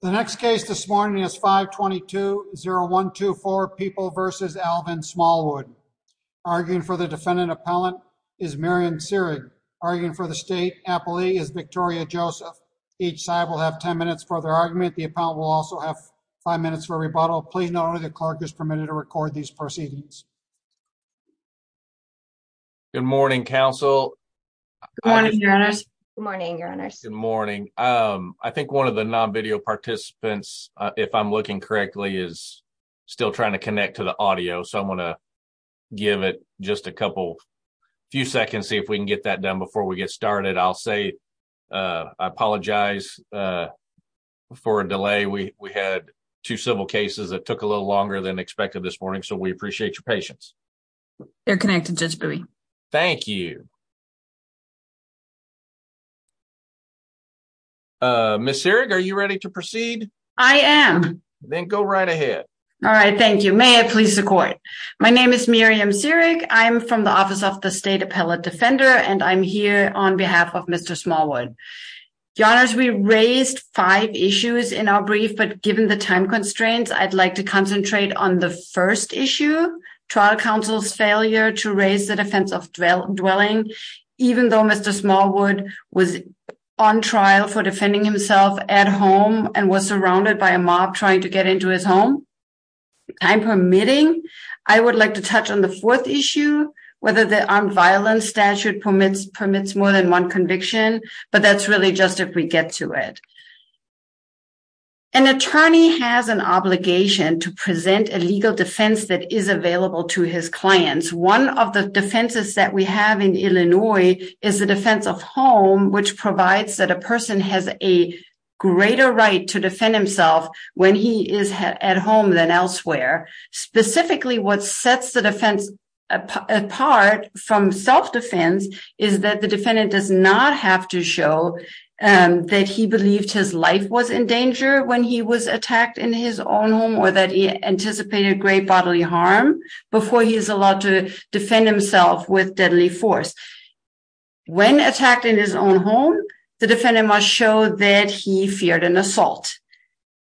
The next case this morning is 5 22 0 1 2 4 people versus Alvin Smallwood arguing for the defendant. Appellant is Marion Searing, arguing for the state. Appalachia is Victoria Joseph. Each side will have 10 minutes for their argument. The appellant will also have five minutes for rebuttal. Please know the clerk is permitted to record these proceedings. Good morning, Council. Good morning, Your Honors. Good morning, Your Honors. Participants, if I'm looking correctly, is still trying to connect to the audio. So I'm gonna give it just a couple few seconds, see if we can get that done before we get started. I'll say, uh, I apologize, uh, for a delay. We had two civil cases that took a little longer than expected this morning. So we appreciate your patience. They're connected. Just be. Thank you. Uh, Miss Eric, are you ready to proceed? I am. Then go right ahead. All right. Thank you. May I please support? My name is Miriam Siric. I'm from the office of the state appellate defender, and I'm here on behalf of Mr Smallwood. Your Honors, we raised five issues in our brief, but given the time constraints, I'd like to concentrate on the first issue. Trial counsel's raised the defense of dwell dwelling, even though Mr Smallwood was on trial for defending himself at home and was surrounded by a mob trying to get into his home. I'm permitting. I would like to touch on the fourth issue, whether the armed violence statute permits permits more than one conviction. But that's really just if we get to it. An attorney has an obligation to present a legal defense that is available to his clients. One of the defenses that we have in Illinois is the defense of home, which provides that a person has a greater right to defend himself when he is at home than elsewhere. Specifically, what sets the defense apart from self defense is that the defendant does not have to show that he believed his life was in danger when he was attacked in his own home, or that he anticipated great bodily harm before he is allowed to defend himself with deadly force. When attacked in his own home, the defendant must show that he feared an assault.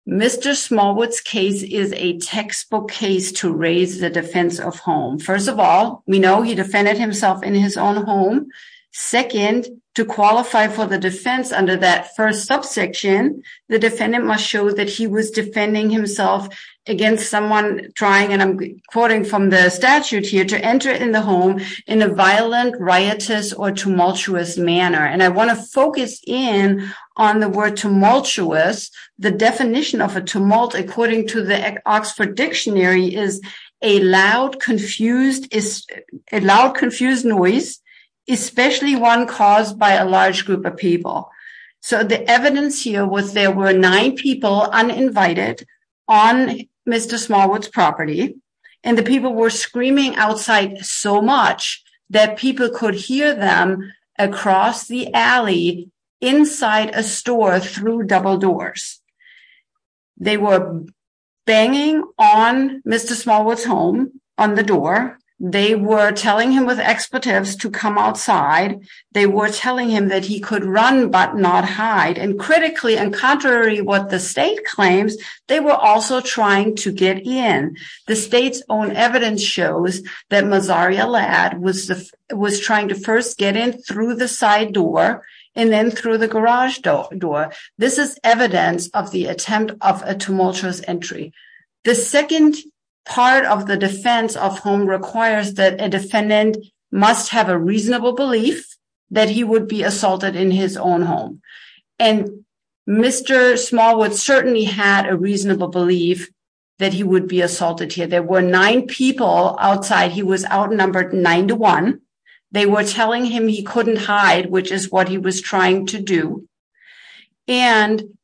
Mr Smallwood's case is a textbook case to raise the defense of home. First of all, we know he defended himself in his own home. Second, to qualify for the defense under that first subsection, the defendant must show that he was defending himself against someone trying, and I'm quoting from the statute here, to enter in the home in a violent, riotous, or tumultuous manner. And I want to focus in on the word tumultuous. The definition of a tumult, according to the Oxford Dictionary, is a loud, confused noise, especially one caused by a large group of people. So the evidence here was there were nine people uninvited on Mr. Smallwood's property, and the people were screaming outside so much that people could hear them across the alley inside a store through double doors. They were banging on Mr. Smallwood's home on the door. They were telling him with expletives to come outside. They were telling him that he could run but not hide. And critically, and contrary to what the state claims, they were also trying to get in. The state's own evidence shows that Mazari Allad was trying to first get in through the side door and then through the garage door. This is evidence of the attempt of a tumultuous entry. The second part of the defense of home requires that a defendant must have a reasonable belief that he would be assaulted in his own home. And Mr. Smallwood certainly had a reasonable belief that he would be assaulted here. There were nine people outside. He was outnumbered nine to one. They were telling him he couldn't hide, which is what he was trying to do. And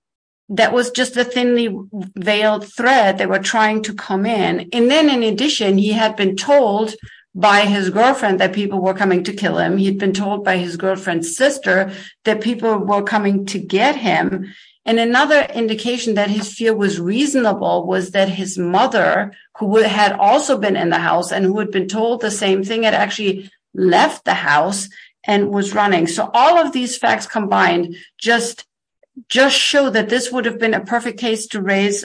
that was just a thinly veiled threat. They were trying to come in. And then in addition, he had been told by his girlfriend that people were coming to kill him. He had been told by his girlfriend's sister that people were coming to get him. And another indication that his fear was reasonable was that his mother, who had also been in the house and who had been told the same thing, had actually left the house and was running. So all of these facts combined just show that this would have been a perfect case to raise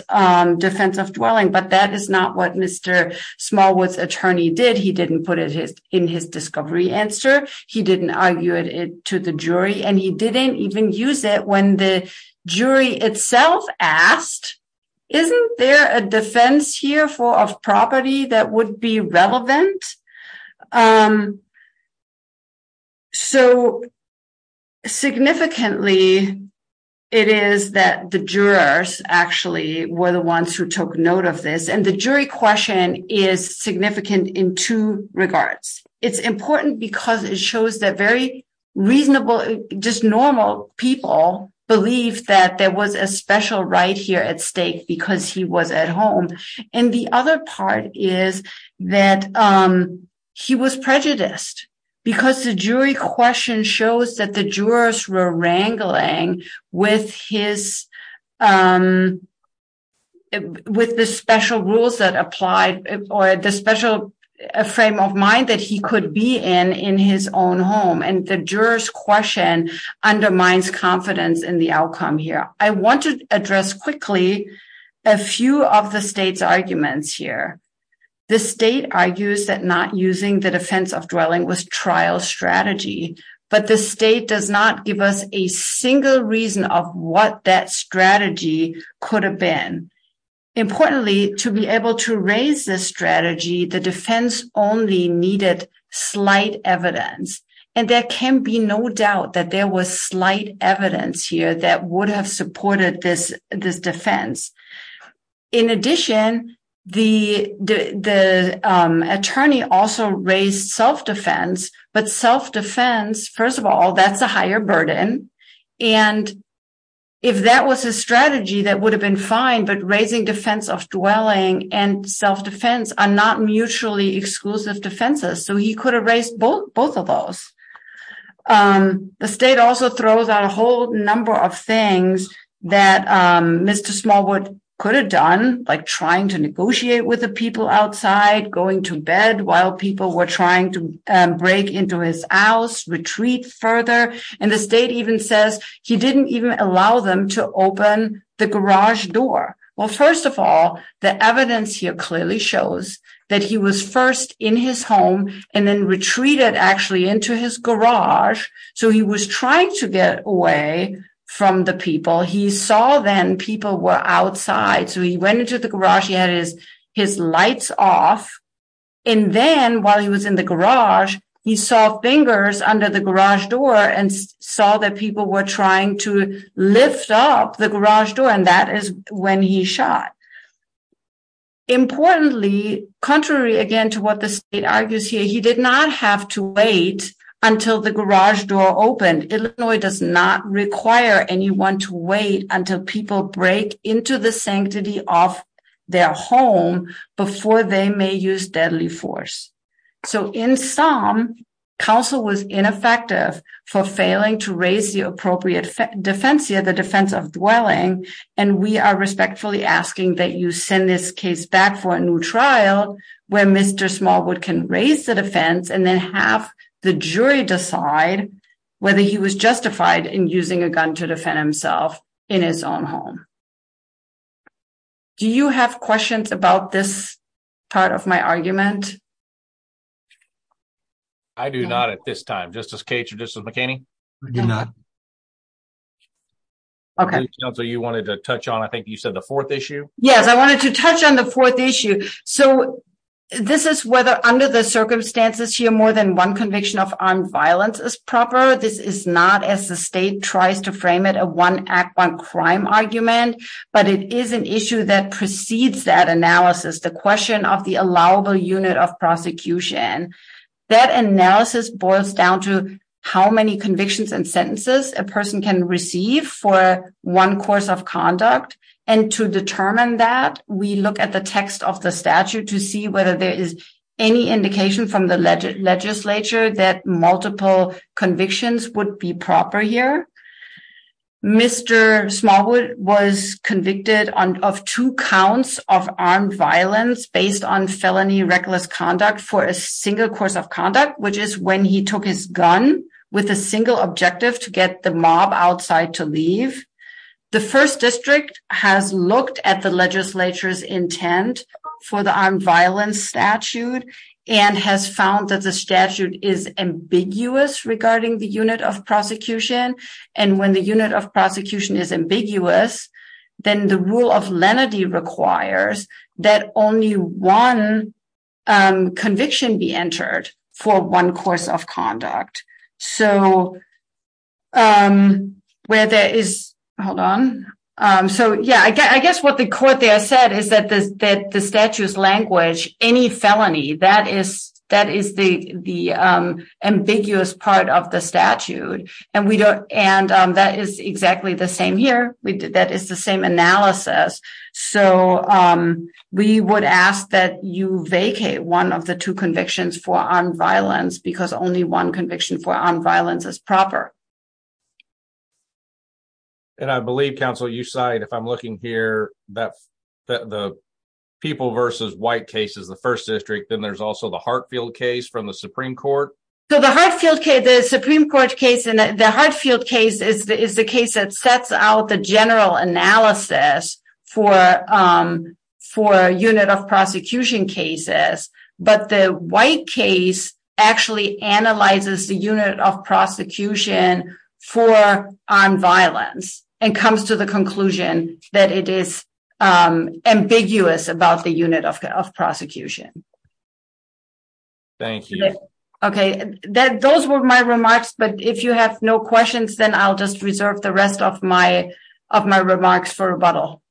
defense of dwelling. But that is not what Mr. Smallwood's attorney did. He didn't put it in his discovery answer. He didn't argue it to the jury. And he didn't even use it when the jury itself asked, isn't there a defense here for a property that would be relevant? So significantly, it is that the jurors actually were the ones who took regards. It's important because it shows that very reasonable, just normal people believe that there was a special right here at stake because he was at home. And the other part is that he was prejudiced, because the jury question shows that the jurors were wrangling with his, with the special rules that applied, or the special frame of mind that he could be in in his own home. And the jurors question undermines confidence in the outcome here. I want to address quickly, a few of the state's arguments here. The state argues that not using the defense of dwelling was trial strategy. But the state does not give us a single reason of what that strategy could have been. Importantly, to be able to raise this strategy, the defense only needed slight evidence. And there can be no doubt that there was slight evidence here that would have supported this defense. In addition, the attorney also raised self defense, but self defense, first of all, that's a higher burden. And if that was a strategy, that would have been fine. But raising defense of dwelling and self defense are not mutually exclusive defenses. So he could have raised both of those. The state also throws out a whole number of things that Mr. Smallwood could have done, like trying to negotiate with the people outside, going to bed while people were trying to break into his house, retreat further. And the state even says he didn't even allow them to open the garage door. Well, first of all, the evidence here clearly shows that he was first in his home and then retreated actually into his garage. So he was trying to get away from the people he saw then people were outside. So he went into the garage, he had his his lights off. And then while he was in the garage, he saw fingers under the garage door and saw that people were trying to lift up the garage door. And that is when he shot. Importantly, contrary again to what the state argues here, he did not have to wait until the garage door opened. Illinois does not require anyone to wait until people break into the sanctity of their home before they may use deadly force. So in some counsel was ineffective for failing to raise the appropriate defense here the defense of dwelling and we are respectfully asking that you send this case back for a new trial where Mr. Smallwood can raise the defense and then have the jury decide whether he was justified in using a gun to defend himself in his own home. Do you have questions about this part of my argument? I do not at this time, just as Kate or just as McCain, I do not. Okay, so you wanted to touch on I think you said the fourth issue. Yes, I wanted to touch on the fourth issue. So this is whether under the circumstances here more than one conviction of armed violence is proper. This is not as the state tries to frame it a one act one crime argument. But it is an issue that precedes that analysis, the question of the allowable unit of prosecution. That analysis boils down to how many convictions and sentences a person can receive for one course of conduct. And to determine that we look at the text of the statute to see whether there is any indication from the legislature that multiple convictions would be proper here. Mr. Smallwood was convicted on of two counts of armed violence based on felony reckless conduct for a single course of conduct, which is when he took his gun with a single objective to get the mob outside to leave. The first district has looked at the legislature's intent for the armed violence statute, and has found that the statute is ambiguous regarding the unit of prosecution. And when the unit of prosecution is ambiguous, then the rule of lenity requires that only one conviction be entered for one course of conduct. So where there is Hold on. So yeah, I guess what the court there said is that this that the statues language any felony that is that is the the part of the statute. And we don't and that is exactly the same here we did that is the same analysis. So we would ask that you vacate one of the two convictions for on violence because only one conviction for on violence is proper. And I believe Council you side if I'm looking here, that the people versus white cases, the first district, then there's also the Hartfield case from the Supreme Court. So the Hartfield case, the Supreme Court case in the Hartfield case is the case that sets out the general analysis for for unit of prosecution cases. But the white case actually analyzes the unit of prosecution for armed violence and comes to the conclusion that it is ambiguous about the unit of prosecution. Thank you. Okay, that those were my remarks. But if you have no questions, then I'll just reserve the rest of my of my remarks for rebuttal.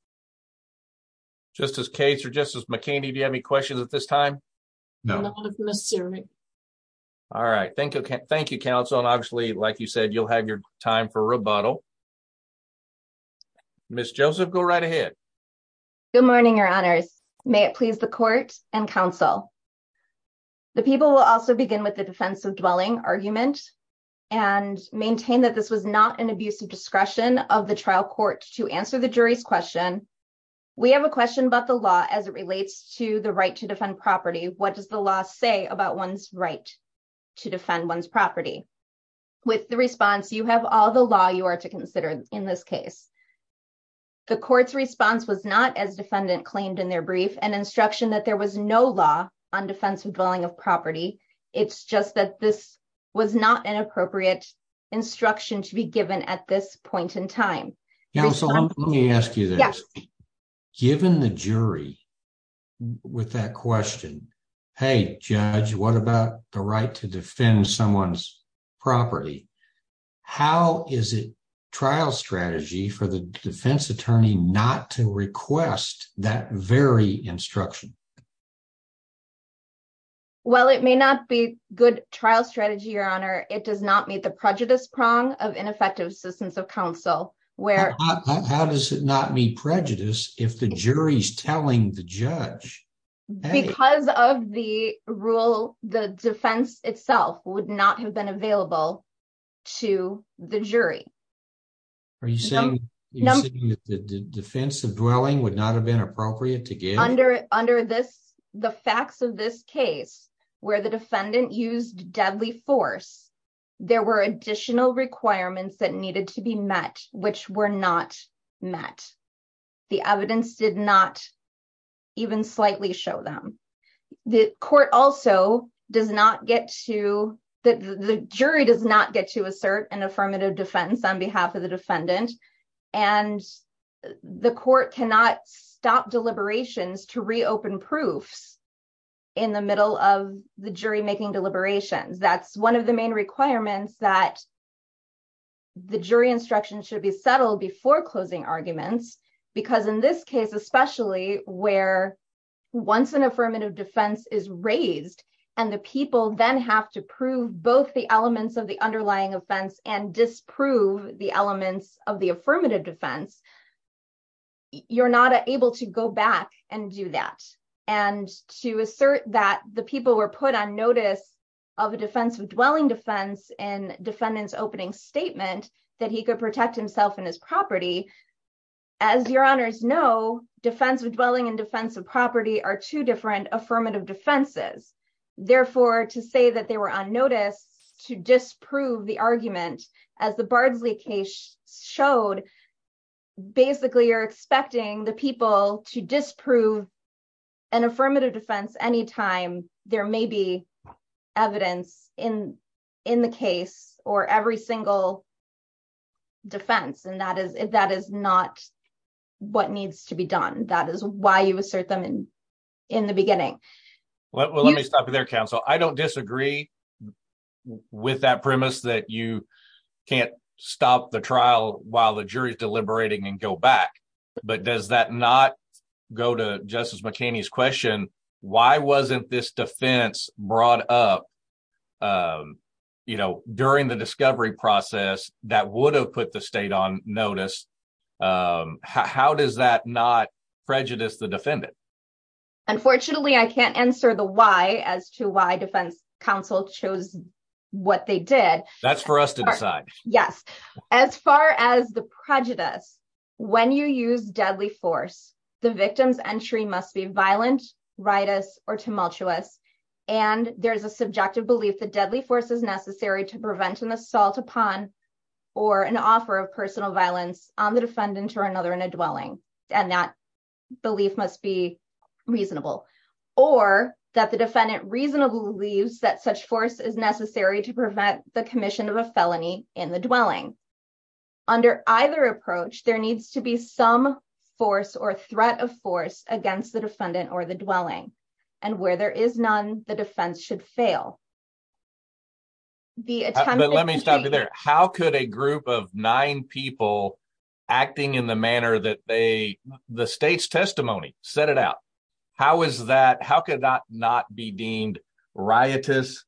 Just as case or just as McKinney, do you have any questions at this time? No, sir. All right. Thank you. Thank you, Council. And obviously, like you said, you'll have your time for rebuttal. Miss Joseph, go right ahead. Good morning, your honors. May it please the court and counsel. The people will also begin with the defensive dwelling argument and maintain that this was not an abuse of discretion of the trial court to answer the jury's question. We have a question about the law as it relates to right to defend property. What does the law say about one's right to defend one's property? With the response, you have all the law you are to consider in this case. The court's response was not as defendant claimed in their brief and instruction that there was no law on defensive dwelling of property. It's just that this was not an appropriate instruction to be given at this point in time. Let me ask you this. Given the jury with that question, hey, judge, what about the right to defend someone's property? How is it trial strategy for the defense attorney not to request that very instruction? Well, it may not be good trial strategy, your honor. It does not meet the prejudice prong of ineffective assistance of counsel. How does it not meet prejudice if the jury's telling the judge? Because of the rule, the defense itself would not have been available to the jury. Are you saying that the defensive dwelling would not have been appropriate to give? Under the facts of this case, where the defendant used deadly force, there were additional requirements that needed to be met, which were not met. The evidence did not even slightly show them. The jury does not get to assert an affirmative defense on behalf of the defendant. And the court cannot stop deliberations to reopen proofs in the middle of the jury making deliberations. That's one of the main requirements that the jury instruction should be settled before closing arguments. Because in this case, especially where once an affirmative defense is raised, and the people then have to prove both the elements of the underlying offense and disprove the elements of the affirmative defense, you're not able to go back and do that. And to assert that the people were put on notice of a defensive dwelling defense and defendant's opening statement that he could protect himself and his property. As your honors know, defensive dwelling and defensive property are two different affirmative defenses. Therefore, to say that they were on to disprove the argument, as the Bardsley case showed, basically, you're expecting the people to disprove an affirmative defense anytime there may be evidence in the case or every single defense. And that is not what needs to be done. That is why you assert them in the beginning. Well, let me stop you there, counsel. I don't disagree with that premise that you can't stop the trial while the jury is deliberating and go back. But does that not go to Justice McHaney's question? Why wasn't this defense brought up? You know, during the discovery process that would have put the state on notice? How does that not prejudice the defendant? Unfortunately, I can't answer the why as to why defense counsel chose what they did. That's for us to decide. Yes. As far as the prejudice, when you use deadly force, the victim's entry must be violent, riotous, or tumultuous. And there's a subjective belief that deadly force is necessary to prevent an assault upon or an offer of personal violence on the defendant or another in a dwelling. And that must be reasonable. Or that the defendant reasonably believes that such force is necessary to prevent the commission of a felony in the dwelling. Under either approach, there needs to be some force or threat of force against the defendant or the dwelling. And where there is none, the defense should fail. Let me stop you there. How could a group of nine people acting in the manner that the state's testimony set it out, how could that not be deemed riotous,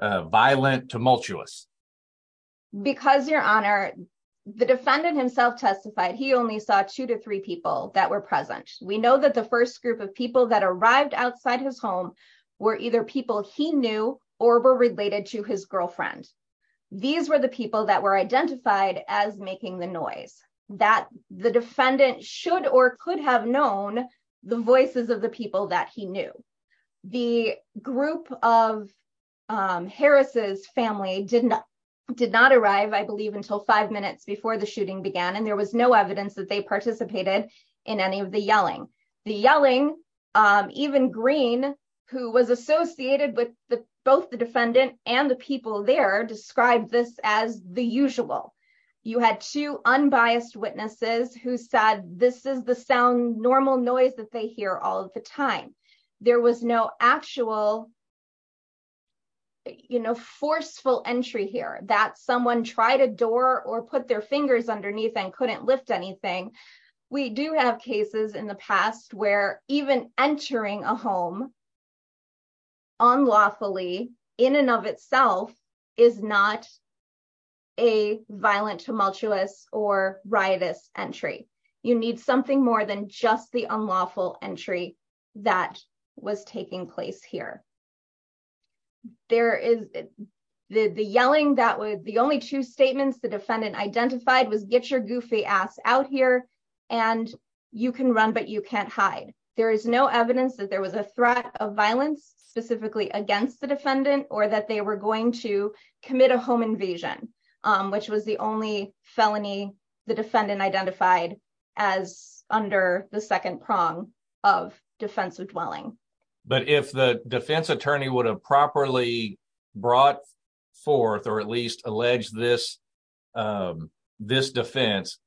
violent, tumultuous? Because, Your Honor, the defendant himself testified he only saw two to three people that were present. We know that the first group of people that arrived outside his home were either people he knew or were related to his girlfriend. These were the people that identified as making the noise. That the defendant should or could have known the voices of the people that he knew. The group of Harris's family did not arrive, I believe, until five minutes before the shooting began. And there was no evidence that they participated in any of the yelling. The yelling, even Green, who was associated with both the defendant and the people there, described this as the usual. You had two unbiased witnesses who said, this is the sound, normal noise that they hear all of the time. There was no actual, you know, forceful entry here that someone tried a door or put their fingers underneath and couldn't lift anything. We do have cases in the past where even entering a home unlawfully, in and of itself, is not a violent, tumultuous, or riotous entry. You need something more than just the unlawful entry that was taking place here. The only two statements the defendant identified was, get your goofy ass out here, and you can run but you can't hide. There is no evidence that there was a threat of violence specifically against the defendant or that they were going to commit a home invasion, which was the only felony the defendant identified as under the second prong of defensive dwelling. But if the defense attorney would have properly brought forth or at least alleged this defense,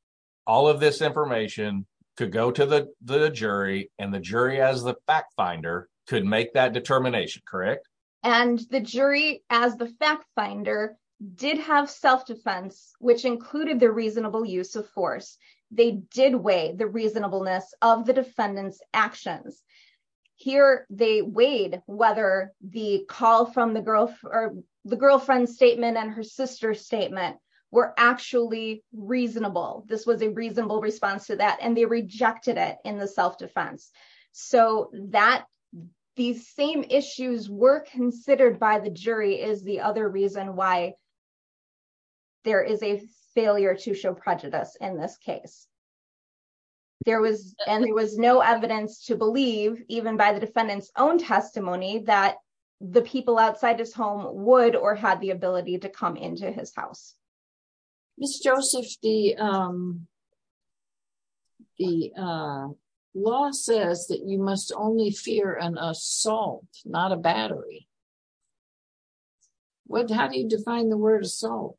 all of this information could go to the jury, and the jury as the fact finder could make that determination, correct? And the jury as the fact finder did have self-defense, which included the reasonable use of force. They did weigh the reasonableness of the defendant's actions. Here they weighed whether the call from the girl or the girlfriend's statement and her sister's statement were actually reasonable. This was a self-defense. These same issues were considered by the jury as the other reason why there is a failure to show prejudice in this case. There was no evidence to believe, even by the defendant's own testimony, that the people outside his home would or had the ability to come into his house. Ms. Joseph, the law says that you must only fear an assault, not a battery. How do you define the word assault?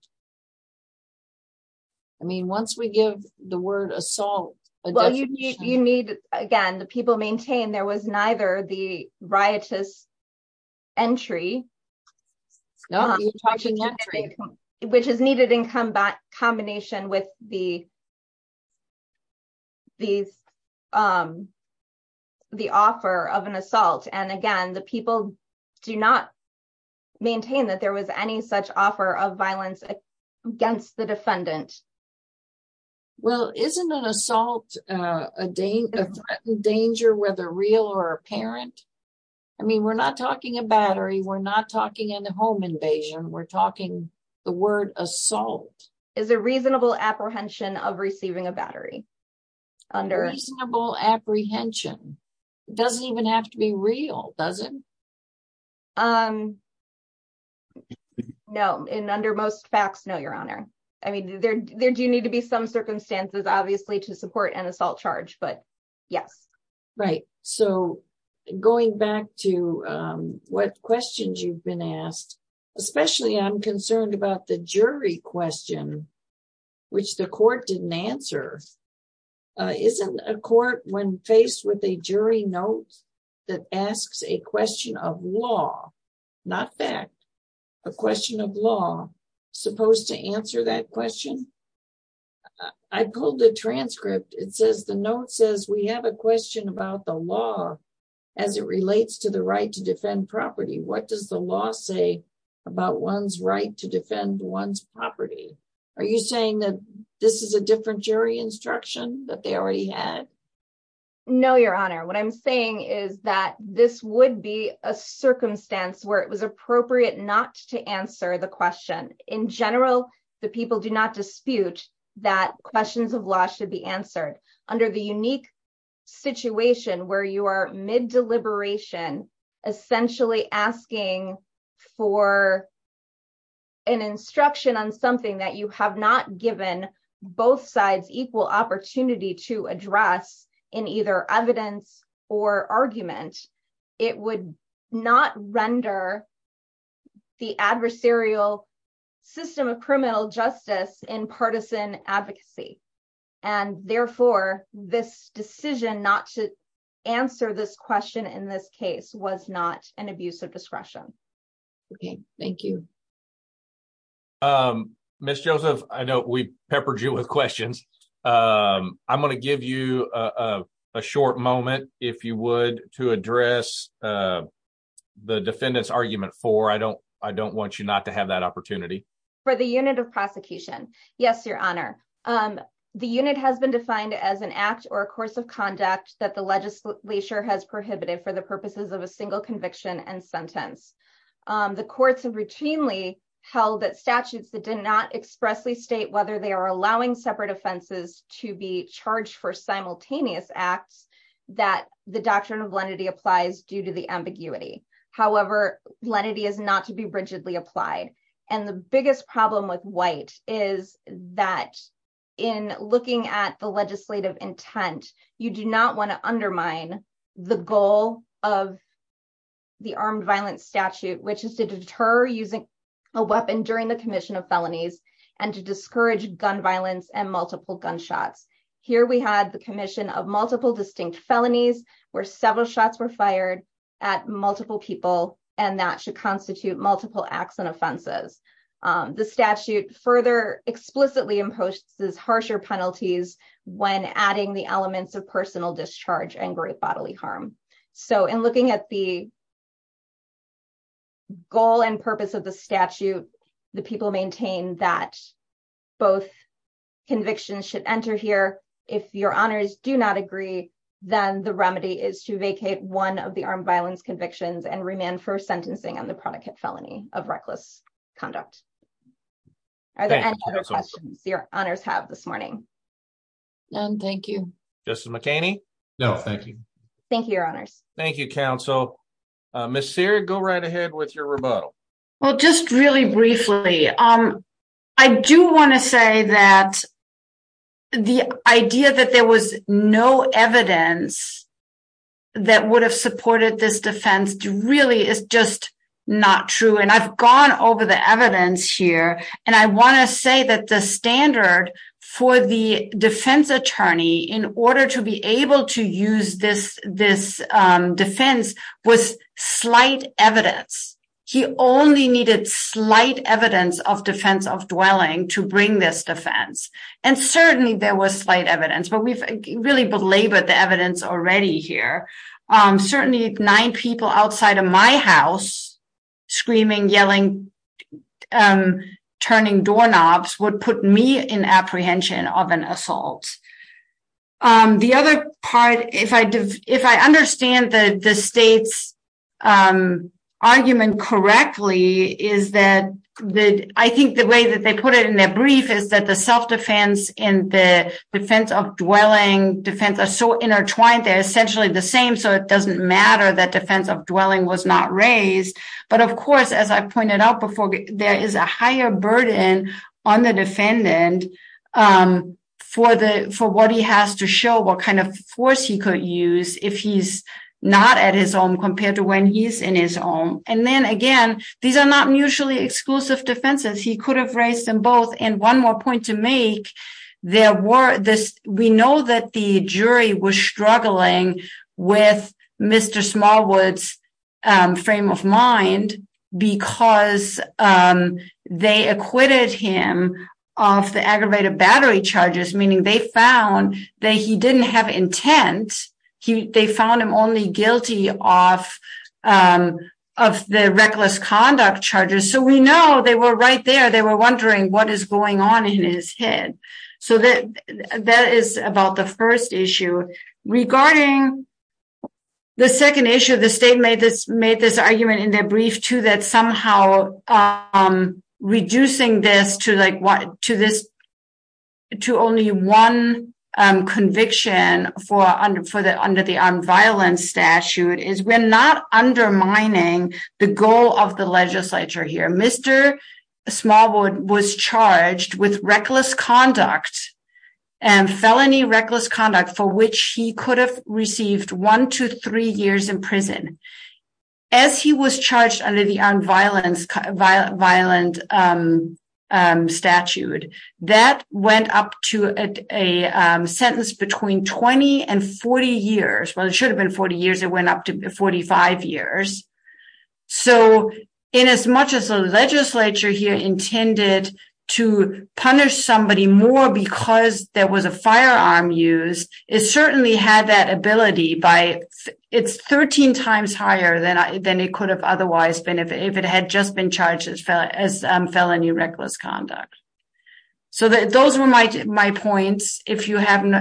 I mean, once we give the word assault, well, you need, again, the people maintain there was neither the riotous entry, which is needed in combination with the offer of an assault. And again, the people do not maintain that there was any such offer of violence against the defendant. Well, isn't an assault a threatened danger, whether real or apparent? I mean, we're not talking a battery. We're not talking a home invasion. We're talking the word assault. Is a reasonable apprehension of receiving a battery? A reasonable apprehension. It doesn't even have to be real, does it? No. And under most facts, no, Your Honor. I mean, there do need to be some circumstances, obviously, to support an assault charge, but yes. Right. So going back to what questions you've been asked, especially I'm concerned about the jury question, which the court didn't answer. Isn't a court when faced with a jury note that asks a question of law, not fact, a question of law supposed to answer that question? I pulled the transcript. It says the note says we have a question about the law as it relates to the right to defend property. What does the law say about one's right to defend one's property? Are you saying that this is a different jury instruction that they already had? No, Your Honor. What I'm saying is that this would be a circumstance where it was appropriate not to answer the question. In general, the people do not dispute that questions of law should be answered under the unique situation where you are mid-deliberation, essentially asking for an instruction on something that you have not given both sides equal opportunity to address in either evidence or argument. It would not render the adversarial system of criminal justice in partisan advocacy. And therefore, this decision not to answer this question in this case was not an abuse of discretion. Okay. Thank you. Ms. Joseph, I know we peppered you with questions. I'm going to give you a short moment, if you would, to address the defendant's argument for. I don't want you not to have that opportunity. For the unit of prosecution. Yes, Your Honor. The unit has been defined as an act or a course of conduct that the legislature has prohibited for the purposes of a single conviction and sentence. The courts have routinely held that statutes that not expressly state whether they are allowing separate offenses to be charged for simultaneous acts that the doctrine of lenity applies due to the ambiguity. However, lenity is not to be rigidly applied. And the biggest problem with white is that in looking at the legislative intent, you do not want to undermine the goal of the armed violence statute, which is to deter using a weapon during the commission of felonies, and to discourage gun violence and multiple gunshots. Here we had the commission of multiple distinct felonies, where several shots were fired at multiple people, and that should constitute multiple acts and offenses. The statute further explicitly imposes harsher penalties when adding the elements of personal discharge and great statute. The people maintain that both convictions should enter here. If Your Honors do not agree, then the remedy is to vacate one of the armed violence convictions and remand for sentencing on the prodigate felony of reckless conduct. Are there any other questions Your Honors have this morning? None, thank you. Justice McHaney? No, thank you. Thank you, Your Honors. Thank you, Well, just really briefly, I do want to say that the idea that there was no evidence that would have supported this defense really is just not true. And I've gone over the evidence here. And I want to say that the standard for the defense attorney in order to be able to use this defense was slight evidence. He only needed slight evidence of defense of dwelling to bring this defense. And certainly there was slight evidence, but we've really belabored the evidence already here. Certainly nine people outside of my house, screaming, yelling, and turning doorknobs would put me in apprehension of an assault. The other part, if I understand the state's argument correctly, is that I think the way that they put it in their brief is that the self-defense and the defense of dwelling defense are so intertwined, they're essentially the same. So it doesn't matter that defense of dwelling was not raised. But of course, as I pointed out before, there is a higher burden on the defendant for what he has to show, what kind of force he could use if he's not at his own compared to when he's in his own. And then again, these are not mutually exclusive defenses. He could have raised them both. And one more point to make, we know that the jury was struggling with Mr. Smallwood's frame of mind because they acquitted him of the aggravated battery charges, meaning they found that he didn't have intent. They found him only guilty of the reckless conduct charges. So we know they were right there. They were wondering what is going on in his head. So that is about the argument in their brief too, that somehow reducing this to only one conviction under the armed violence statute is we're not undermining the goal of the legislature here. Mr. Smallwood was charged with reckless conduct and felony reckless conduct for which he could have received one to three years in prison. As he was charged under the armed violence, violent statute, that went up to a sentence between 20 and 40 years. Well, it should have been 40 years. It went up to 45 years. So in as much as the legislature here intended to punish somebody more because there had that ability, it's 13 times higher than it could have otherwise been if it had just been charged as felony reckless conduct. So those were my points. If you have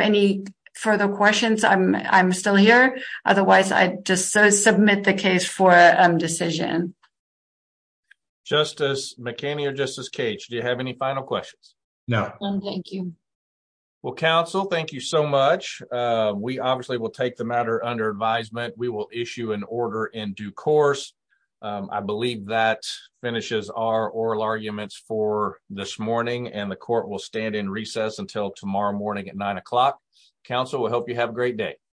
any further questions, I'm still here. Otherwise, I just submit the case for a decision. Justice McKinney or Justice Cage, do you have any final questions? No. Thank you. Well, counsel, thank you so much. We obviously will take the matter under advisement. We will issue an order in due course. I believe that finishes our oral arguments for this morning, and the court will stand in recess until tomorrow morning at nine o'clock. Counsel, we hope you have a great day.